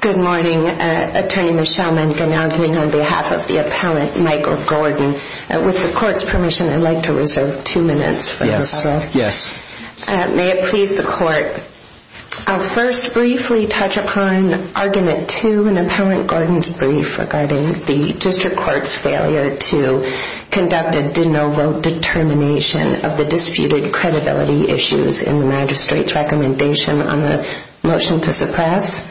Good morning, Attorney Michelle Mankin arguing on behalf of the Appellant Michael Gordon. With the Court's permission, I'd like to reserve two minutes for the rebuttal. Yes. May it please the Court. I'll first briefly touch upon Argument 2 in Appellant Gordon's brief regarding the District Court's failure to conduct a de novo determination of the disputed credibility issues in the Magistrate's recommendation on the motion to suppress.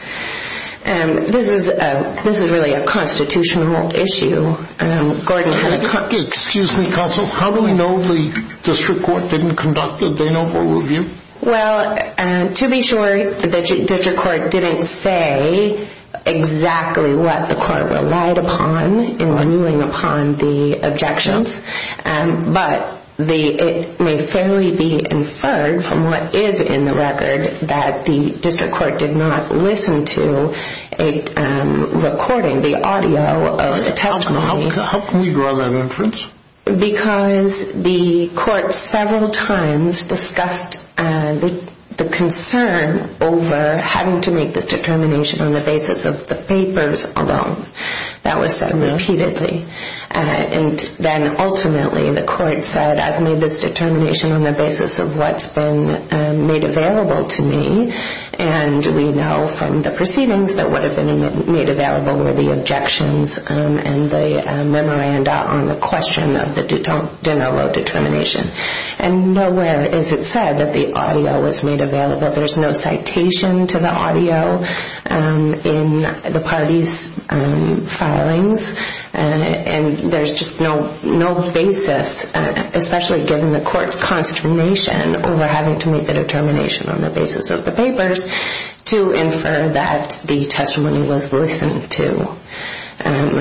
This is really a constitutional issue. Gordon. Excuse me, Counsel. How do we know the District Court didn't conduct a de novo review? Well, to be sure, the District Court didn't say exactly what the Court relied upon in renewing upon the objections. But it may fairly be inferred from what is in the record that the District Court did not listen to a recording, the audio of the testimony. How can we draw that inference? Because the Court several times discussed the concern over having to make this determination on the basis of the papers alone. That was said repeatedly. And then ultimately, the Court said, I've made this determination on the basis of what's been made available to me. And we know from the proceedings that what had been made available were the objections and the memoranda on the question of the de novo determination. And nowhere is it said that the audio was made available. There's no citation to the audio in the parties' filings. And there's just no basis, especially given the Court's consternation over having to make the determination on the basis of the papers, to infer that the testimony was listened to. And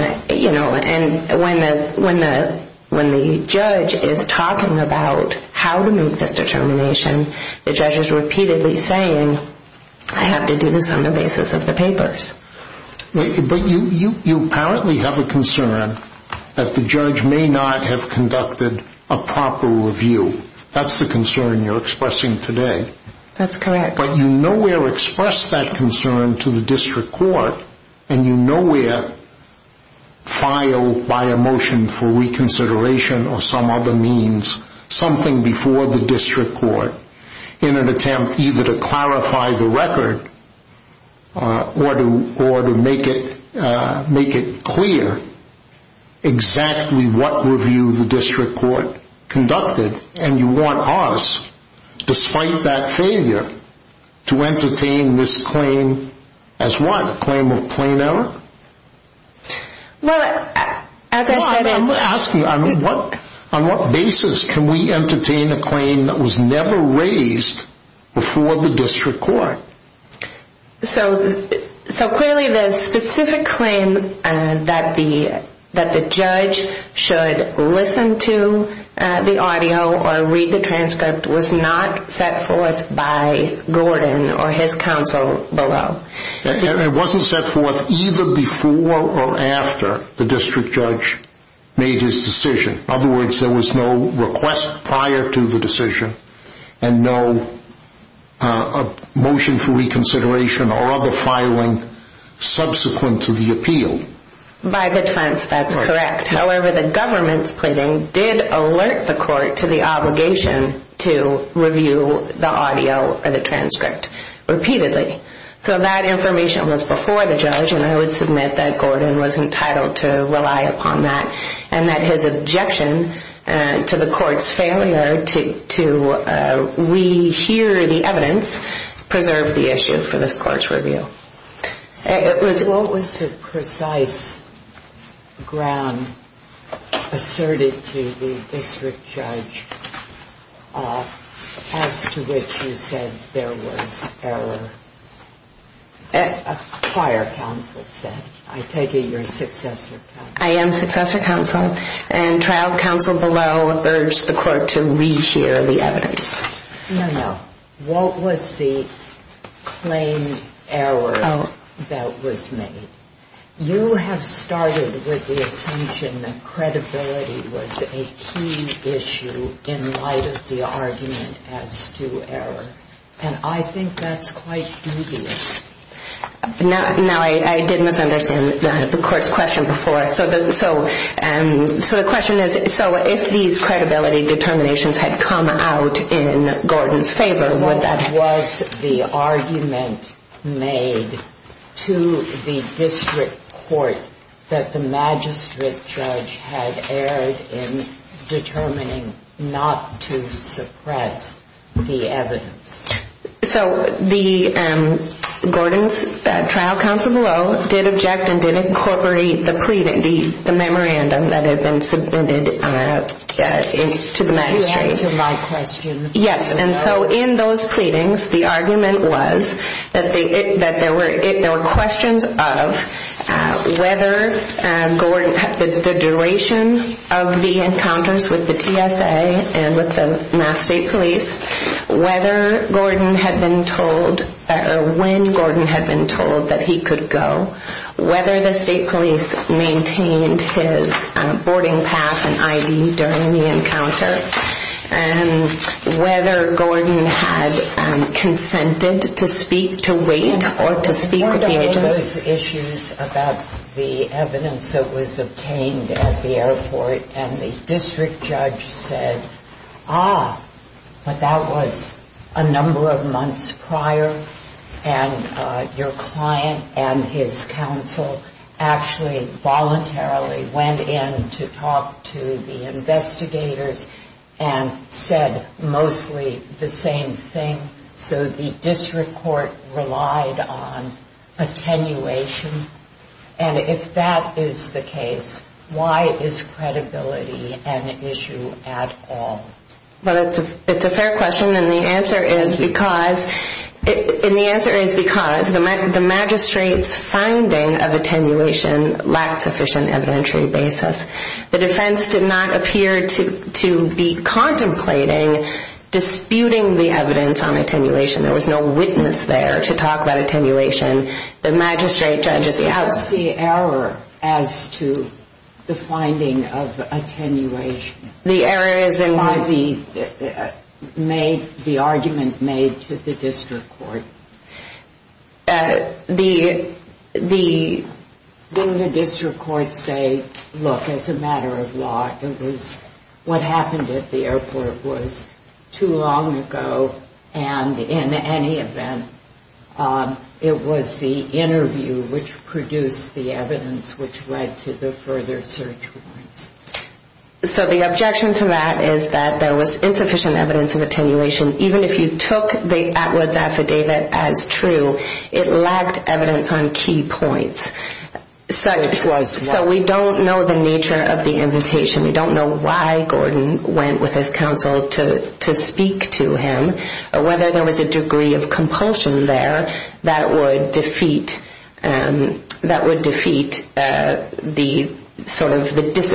when the judge is talking about how to make this determination, the judge is repeatedly saying, I have to do this on the basis of the papers. But you apparently have a concern that the judge may not have conducted a proper review. That's the concern you're expressing today. That's correct. But you nowhere express that concern to the District Court, and you nowhere file by a motion for reconsideration or some other means something before the District Court in an attempt either to clarify the record or to make it clear exactly what review the District Court conducted. And you want us, despite that failure, to entertain this claim as what? A claim of plain error? Well, as I said... I'm asking you, on what basis can we entertain a claim that was never raised before the District Court? So clearly the specific claim that the judge should listen to the audio or read the transcript was not set forth by Gordon or his counsel below. It wasn't set forth either before or after the District Judge made his decision. In other words, there was no request prior to the decision and no motion for reconsideration or other filing subsequent to the appeal. By defense, that's correct. However, the government's pleading did alert the court to the obligation to review the audio or the transcript repeatedly. So that information was before the judge, and I would submit that Gordon was entitled to rely upon that, and that his objection to the court's failure to rehear the evidence preserved the issue for this court's review. What was the precise ground asserted to the District Judge as to which you said there was error? A prior counsel said. I take it you're a successor counsel. I am successor counsel, and trial counsel below urged the court to rehear the evidence. No, no. What was the claimed error that was made? You have started with the assumption that credibility was a key issue in light of the argument as to error, and I think that's quite dubious. Now, I did misunderstand the court's question before. So the question is, so if these credibility determinations had come out in Gordon's favor, what was the argument made to the district court that the magistrate judge had erred in determining not to suppress the evidence? So the Gordon's trial counsel below did object and did incorporate the pleading, the memorandum that had been submitted to the magistrate. You answered my question. Yes, and so in those pleadings, the argument was that there were questions of whether the duration of the encounters with the TSA and with the Mass State Police, whether Gordon had been told or when Gordon had been told that he could go, whether the state police maintained his boarding pass and I.D. during the encounter, and whether Gordon had consented to speak to wait or to speak with the agency. There were various issues about the evidence that was obtained at the airport, and the district judge said, ah, but that was a number of months prior, and your client and his counsel actually voluntarily went in to talk to the investigators and said mostly the same thing. So the district court relied on attenuation, and if that is the case, why is credibility an issue at all? Well, it's a fair question, and the answer is because the magistrate's finding of attenuation lacked sufficient evidentiary basis. The defense did not appear to be contemplating disputing the evidence on attenuation. There was no witness there to talk about attenuation. The magistrate judges the outcome. I just don't see error as to the finding of attenuation. The error is in what the argument made to the district court. The district court said, look, as a matter of law, what happened at the airport was too long ago, and in any event, it was the interview which produced the evidence which led to the further search warrants. So the objection to that is that there was insufficient evidence of attenuation, even if you took Atwood's affidavit as true, it lacked evidence on key points. So we don't know the nature of the invitation. We don't know why Gordon went with his counsel to speak to him, or whether there was a degree of compulsion there that would defeat the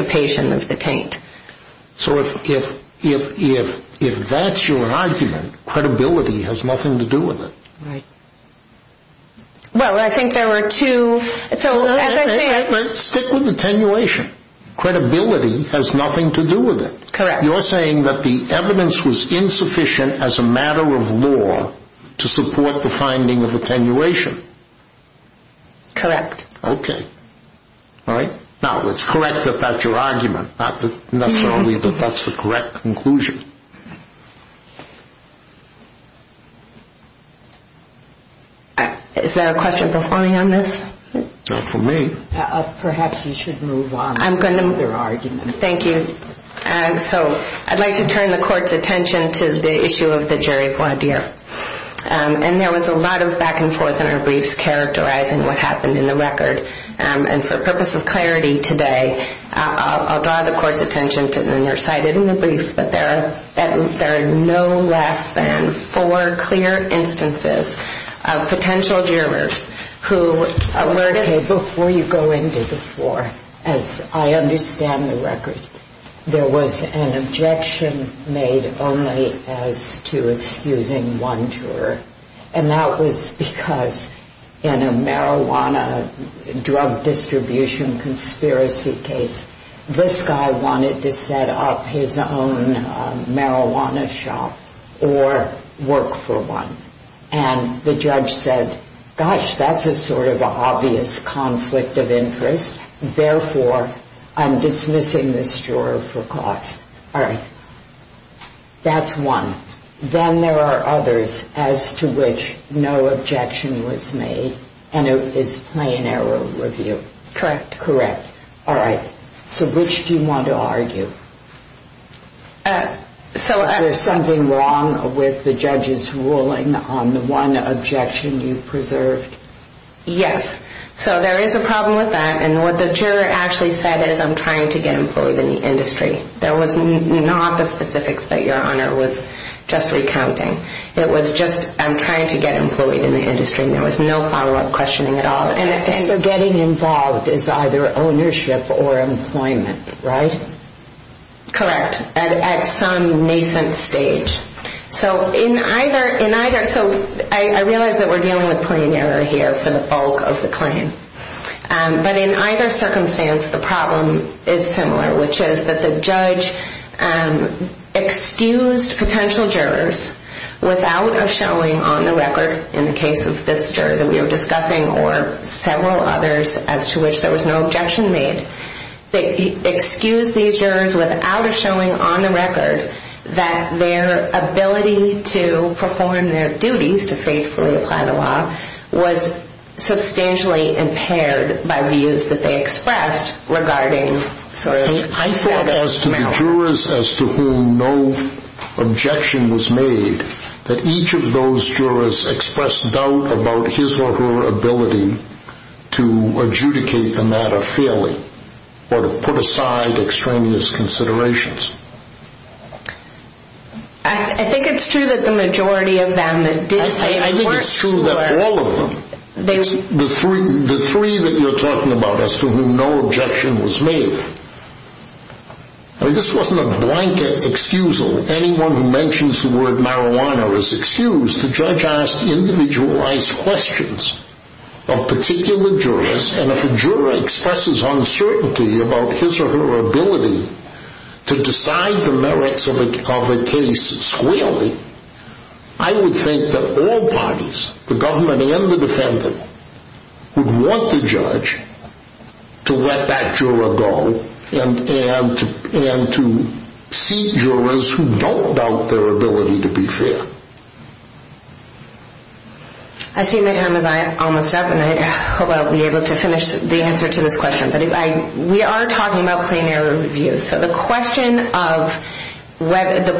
dissipation of the taint. So if that's your argument, credibility has nothing to do with it. Right. Well, I think there were two... Stick with attenuation. Credibility has nothing to do with it. Correct. You're saying that the evidence was insufficient as a matter of law to support the finding of attenuation. Correct. Okay. All right. Now, it's correct that that's your argument, not necessarily that that's the correct conclusion. Is there a question performing on this? Not for me. Perhaps you should move on to another argument. Thank you. So I'd like to turn the court's attention to the issue of the jury voir dire. And there was a lot of back and forth in our briefs characterizing what happened in the record. And for purpose of clarity today, I'll draw the court's attention to, and they're cited in the briefs, but there are no less than four clear instances of potential jurors who were... Okay, before you go into the four, as I understand the record, there was an objection made only as to excusing one juror. And that was because in a marijuana drug distribution conspiracy case, this guy wanted to set up his own marijuana shop or work for one. And the judge said, gosh, that's a sort of obvious conflict of interest. Therefore, I'm dismissing this juror for cause. All right. That's one. Then there are others as to which no objection was made, and it is plain error of review. Correct. Correct. All right. So which do you want to argue? Is there something wrong with the judge's ruling on the one objection you preserved? Yes. So there is a problem with that, and what the juror actually said is, I'm trying to get employed in the industry. There was not the specifics that Your Honor was just recounting. It was just, I'm trying to get employed in the industry, and there was no follow-up questioning at all. So getting involved is either ownership or employment, right? Correct, at some nascent stage. So I realize that we're dealing with plain error here for the bulk of the claim. But in either circumstance, the problem is similar, which is that the judge excused potential jurors without a showing on the record, in the case of this juror that we were discussing or several others as to which there was no objection made. They excused these jurors without a showing on the record that their ability to perform their duties to faithfully apply the law was substantially impaired by views that they expressed regarding sort of the status now. I'm sure as to the jurors as to whom no objection was made, that each of those jurors expressed doubt about his or her ability to adjudicate a matter fairly or to put aside extraneous considerations. I think it's true that the majority of them that did say it weren't true. I think it's true that all of them, the three that you're talking about as to whom no objection was made, I mean, this wasn't a blanket excusal. Anyone who mentions the word marijuana is excused. The judge asked individualized questions of particular jurors, and if a juror expresses uncertainty about his or her ability to decide the merits of a case squarely, I would think that all parties, the government and the defendant, would want the judge to let that juror go and to see jurors who don't doubt their ability to be fair. I see my time is almost up, and I hope I'll be able to finish the answer to this question, but we are talking about plain error reviews, so the question of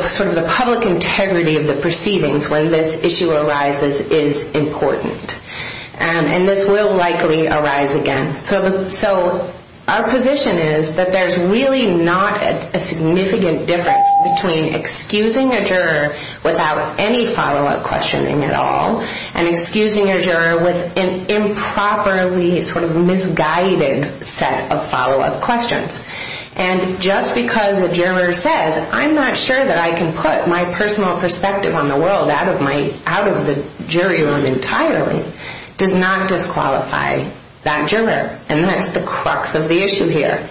sort of the public integrity of the perceivings when this issue arises is important. And this will likely arise again. So our position is that there's really not a significant difference between excusing a juror without any follow-up questioning at all and excusing a juror with an improperly sort of misguided set of follow-up questions. And just because a juror says, I'm not sure that I can put my personal perspective on the world out of the jury room entirely, does not disqualify that juror. And that's the crux of the issue here.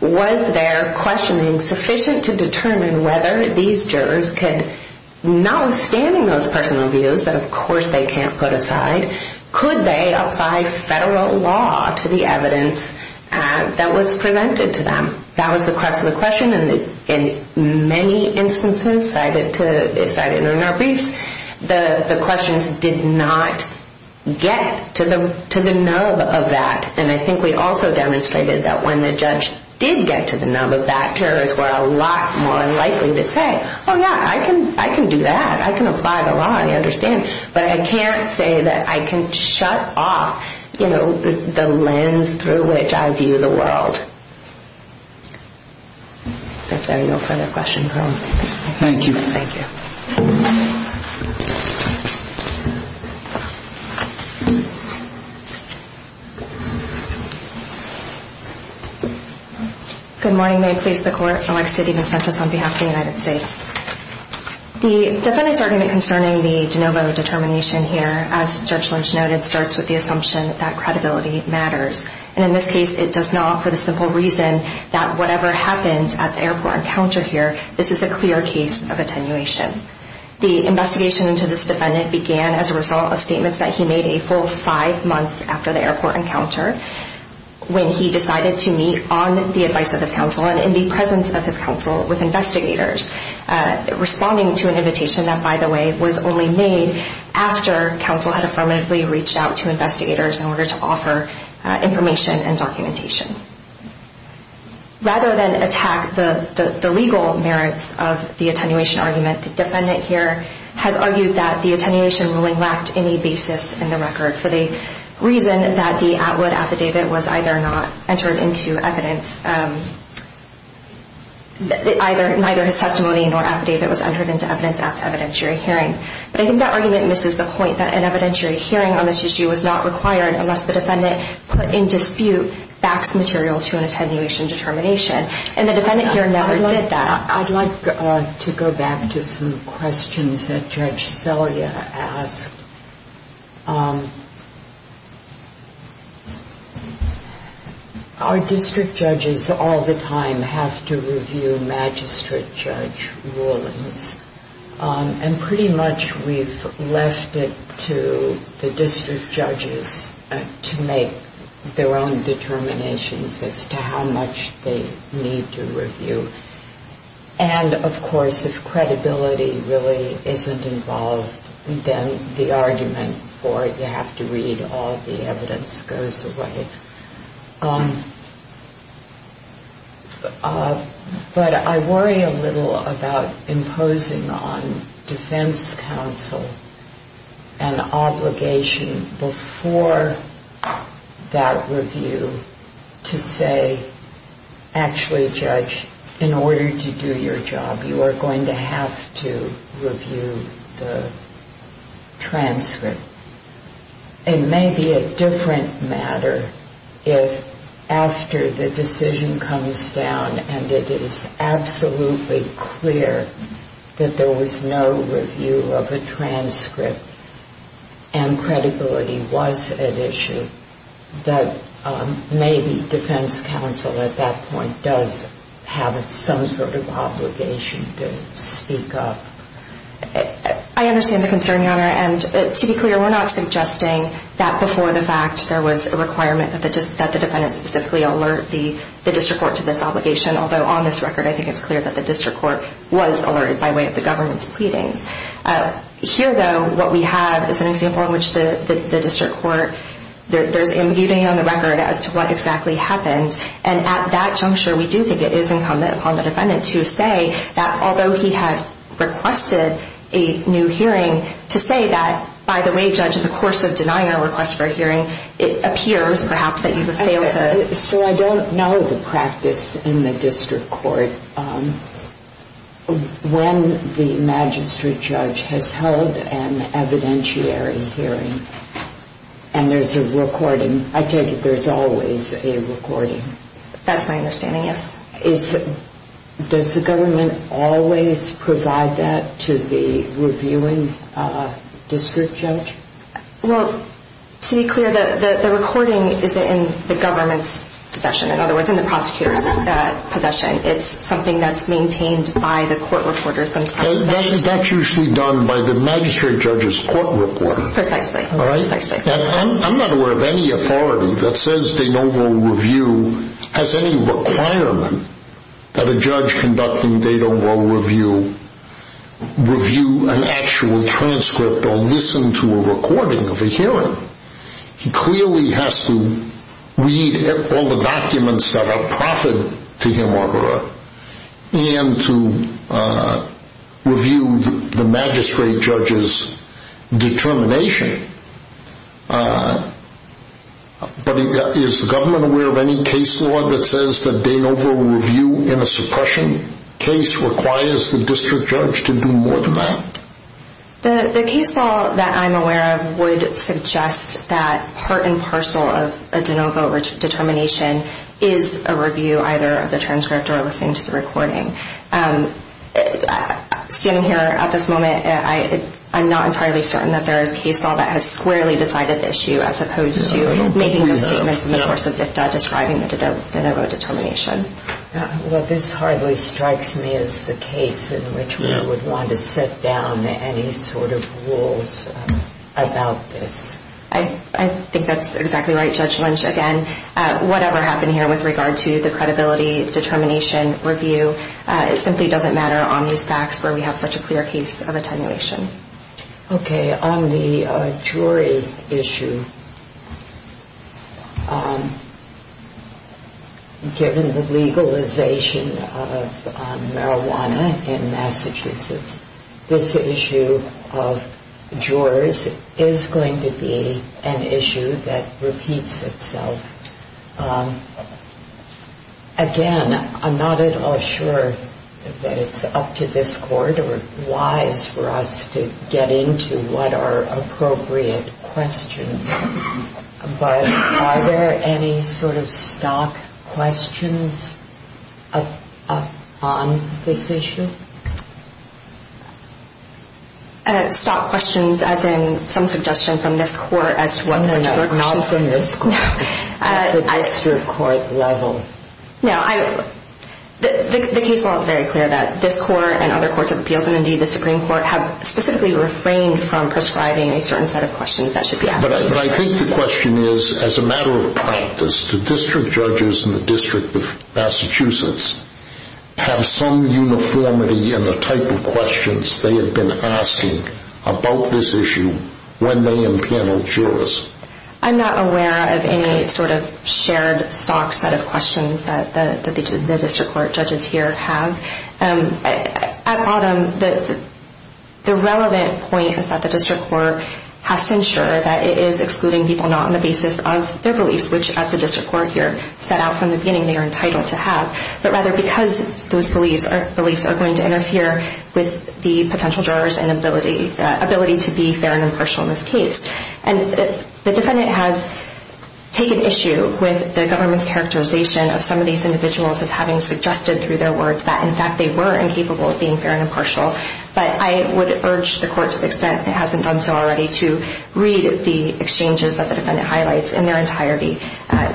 Was their questioning sufficient to determine whether these jurors could, notwithstanding those personal views that, of course, they can't put aside, could they apply federal law to the evidence that was presented to them? That was the crux of the question, and in many instances cited in our briefs, the questions did not get to the nub of that. And I think we also demonstrated that when the judge did get to the nub of that, jurors were a lot more likely to say, oh, yeah, I can do that. I can apply the law. I understand. But I can't say that I can shut off, you know, the lens through which I view the world. If there are no further questions, we'll move on. Thank you. Thank you. Good morning. May it please the Court. Alexis DeMocentis on behalf of the United States. The defendant's argument concerning the de novo determination here, as Judge Lynch noted, starts with the assumption that credibility matters. And in this case, it does not for the simple reason that whatever happened at the airport encounter here, this is a clear case of attenuation. The investigation into this defendant began as a result of statements that he made a full five months after the airport encounter when he decided to meet on the advice of his counsel and in the presence of his counsel with investigators, responding to an invitation that, by the way, was only made after counsel had affirmatively reached out to investigators in order to offer information and documentation. Rather than attack the legal merits of the attenuation argument, the defendant here has argued that the attenuation ruling lacked any basis in the record for the reason that the Atwood affidavit was either not entered into evidence, neither his testimony nor affidavit was entered into evidence after evidentiary hearing. But I think that argument misses the point that an evidentiary hearing on this issue was not required unless the defendant put in dispute facts material to an attenuation determination. And the defendant here never did that. I'd like to go back to some questions that Judge Selya asked. Our district judges all the time have to review magistrate judge rulings, and pretty much we've left it to the district judges to make their own determinations as to how much they need to review. And, of course, if credibility really isn't involved, then the argument for it, you have to read all the evidence, goes away. But I worry a little about imposing on defense counsel an obligation before that review to say, actually, judge, in order to do your job, you are going to have to review the transcript. It may be a different matter if after the decision comes down and it is absolutely clear that there was no review of a transcript and credibility was at issue, that maybe defense counsel at that point does have some sort of obligation to speak up. I understand the concern, Your Honor. And to be clear, we're not suggesting that before the fact there was a requirement that the defendant specifically alert the district court to this obligation, although on this record I think it's clear that the district court was alerted by way of the government's pleadings. Here, though, what we have is an example in which the district court, there's imbuing on the record as to what exactly happened, and at that juncture we do think it is incumbent upon the defendant to say that although he had requested a new hearing, to say that, by the way, judge, in the course of denying our request for a hearing, it appears, perhaps, that you have failed to... has held an evidentiary hearing, and there's a recording. I take it there's always a recording. That's my understanding, yes. Does the government always provide that to the reviewing district judge? Well, to be clear, the recording is in the government's possession. In other words, in the prosecutor's possession. It's something that's maintained by the court reporters themselves. That's usually done by the magistrate judge's court reporter. Precisely. I'm not aware of any authority that says De Novo Review has any requirement that a judge conducting De Novo Review review an actual transcript or listen to a recording of a hearing. He clearly has to read all the documents that are proffered to him or her, and to review the magistrate judge's determination. But is the government aware of any case law that says that De Novo Review in a suppression case requires the district judge to do more than that? The case law that I'm aware of would suggest that part and parcel of a De Novo determination is a review either of the transcript or listening to the recording. Standing here at this moment, I'm not entirely certain that there is case law that has squarely decided the issue as opposed to making those statements in the course of DICTA describing the De Novo determination. Well, this hardly strikes me as the case in which we would want to set down any sort of rules about this. I think that's exactly right, Judge Lynch. Again, whatever happened here with regard to the credibility determination review, it simply doesn't matter on these facts where we have such a clear case of attenuation. Okay, on the jury issue, given the legalization of marijuana in Massachusetts, this issue of jurors is going to be an issue that repeats itself. Again, I'm not at all sure that it's up to this court or wise for us to get into what are appropriate questions. But are there any sort of stock questions on this issue? Stock questions, as in some suggestion from this court as to what the question is. No, not from this court. At the district court level. No, the case law is very clear that this court and other courts of appeals, and indeed the Supreme Court, have specifically refrained from prescribing a certain set of questions that should be asked. But I think the question is, as a matter of practice, do district judges in the District of Massachusetts have some uniformity in the type of questions they have been asking about this issue when they impanel jurors? I'm not aware of any sort of shared stock set of questions that the district court judges here have. At bottom, the relevant point is that the district court has to ensure that it is excluding people not on the basis of their beliefs, which, as the district court here set out from the beginning, they are entitled to have, but rather because those beliefs are going to interfere with the potential jurors' ability to be fair and impartial in this case. And the defendant has taken issue with the government's characterization of some of these individuals as having suggested through their words that, in fact, they were incapable of being fair and impartial. But I would urge the court, to the extent it hasn't done so already, to read the exchanges that the defendant highlights in their entirety.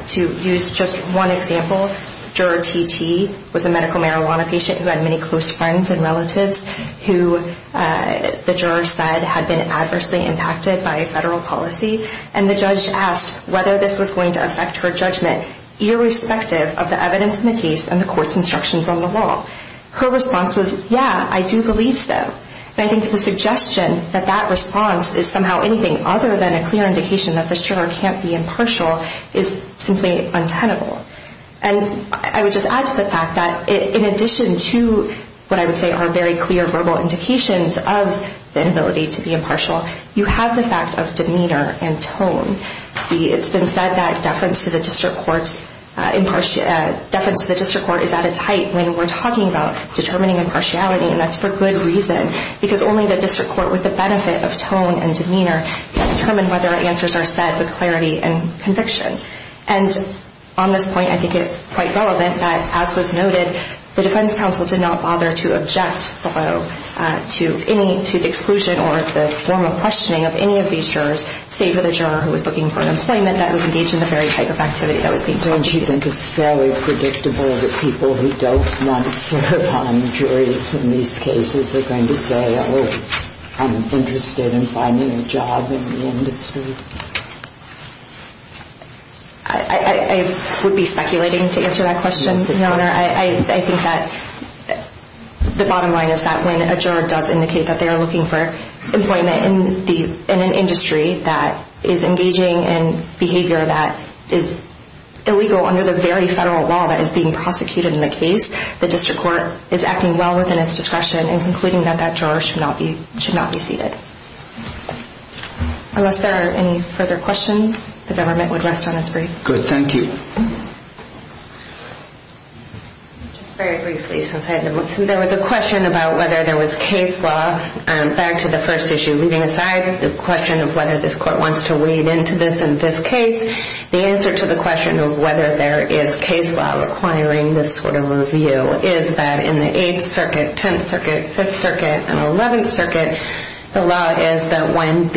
To use just one example, Juror T.T. was a medical marijuana patient who had many close friends and relatives who the jurors said had been adversely impacted by federal policy. And the judge asked whether this was going to affect her judgment, irrespective of the evidence in the case and the court's instructions on the law. Her response was, yeah, I do believe so. And I think the suggestion that that response is somehow anything other than a clear indication that the juror can't be impartial is simply untenable. And I would just add to the fact that, in addition to what I would say are very clear verbal indications of the inability to be impartial, it's been said that deference to the district court is at its height when we're talking about determining impartiality. And that's for good reason, because only the district court with the benefit of tone and demeanor can determine whether answers are set with clarity and conviction. And on this point, I think it's quite relevant that, as was noted, the defense counsel did not bother to object below to the exclusion or the formal questioning of any of these jurors, save for the juror who was looking for an employment that was engaged in the very type of activity that was being talked about. Don't you think it's fairly predictable that people who don't want to serve on the juries in these cases are going to say, oh, I'm interested in finding a job in the industry? I would be speculating to answer that question, Your Honor. I think that the bottom line is that when a juror does indicate that they are looking for employment in an industry that is engaging in behavior that is illegal under the very federal law that is being prosecuted in the case, the district court is acting well within its discretion in concluding that that juror should not be seated. Unless there are any further questions, the government would rest on its breath. Good. Thank you. Just very briefly, since I had the moment. There was a question about whether there was case law, back to the first issue. Leaving aside the question of whether this court wants to wade into this in this case, the answer to the question of whether there is case law requiring this sort of review is that in the Eighth Circuit, Tenth Circuit, Fifth Circuit, and Eleventh Circuit, the law is that when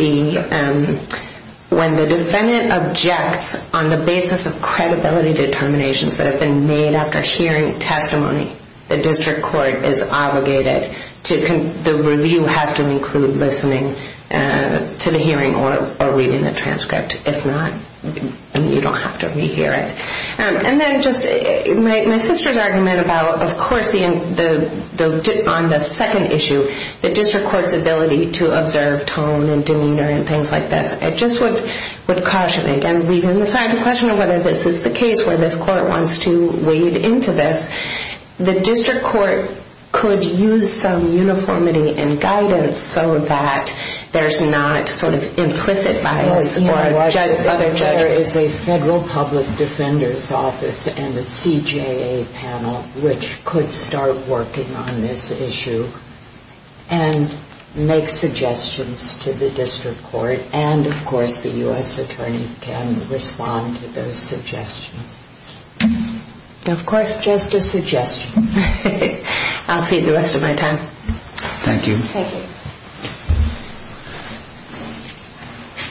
the defendant objects on the basis of credibility determinations that have been made after hearing testimony, the district court is obligated to, the review has to include listening to the hearing or reading the transcript. If not, you don't have to re-hear it. And then just my sister's argument about, of course, on the second issue, the district court's ability to observe tone and demeanor and things like this. I just would caution, again, leaving aside the question of whether this is the case where this court wants to wade into this, the district court could use some uniformity and guidance so that there's not sort of implicit bias for other judges. There is a federal public defender's office and a CJA panel which could start working on this issue and make suggestions to the district court. And, of course, the U.S. attorney can respond to those suggestions. Of course, just a suggestion. I'll see you the rest of my time. Thank you. Thank you.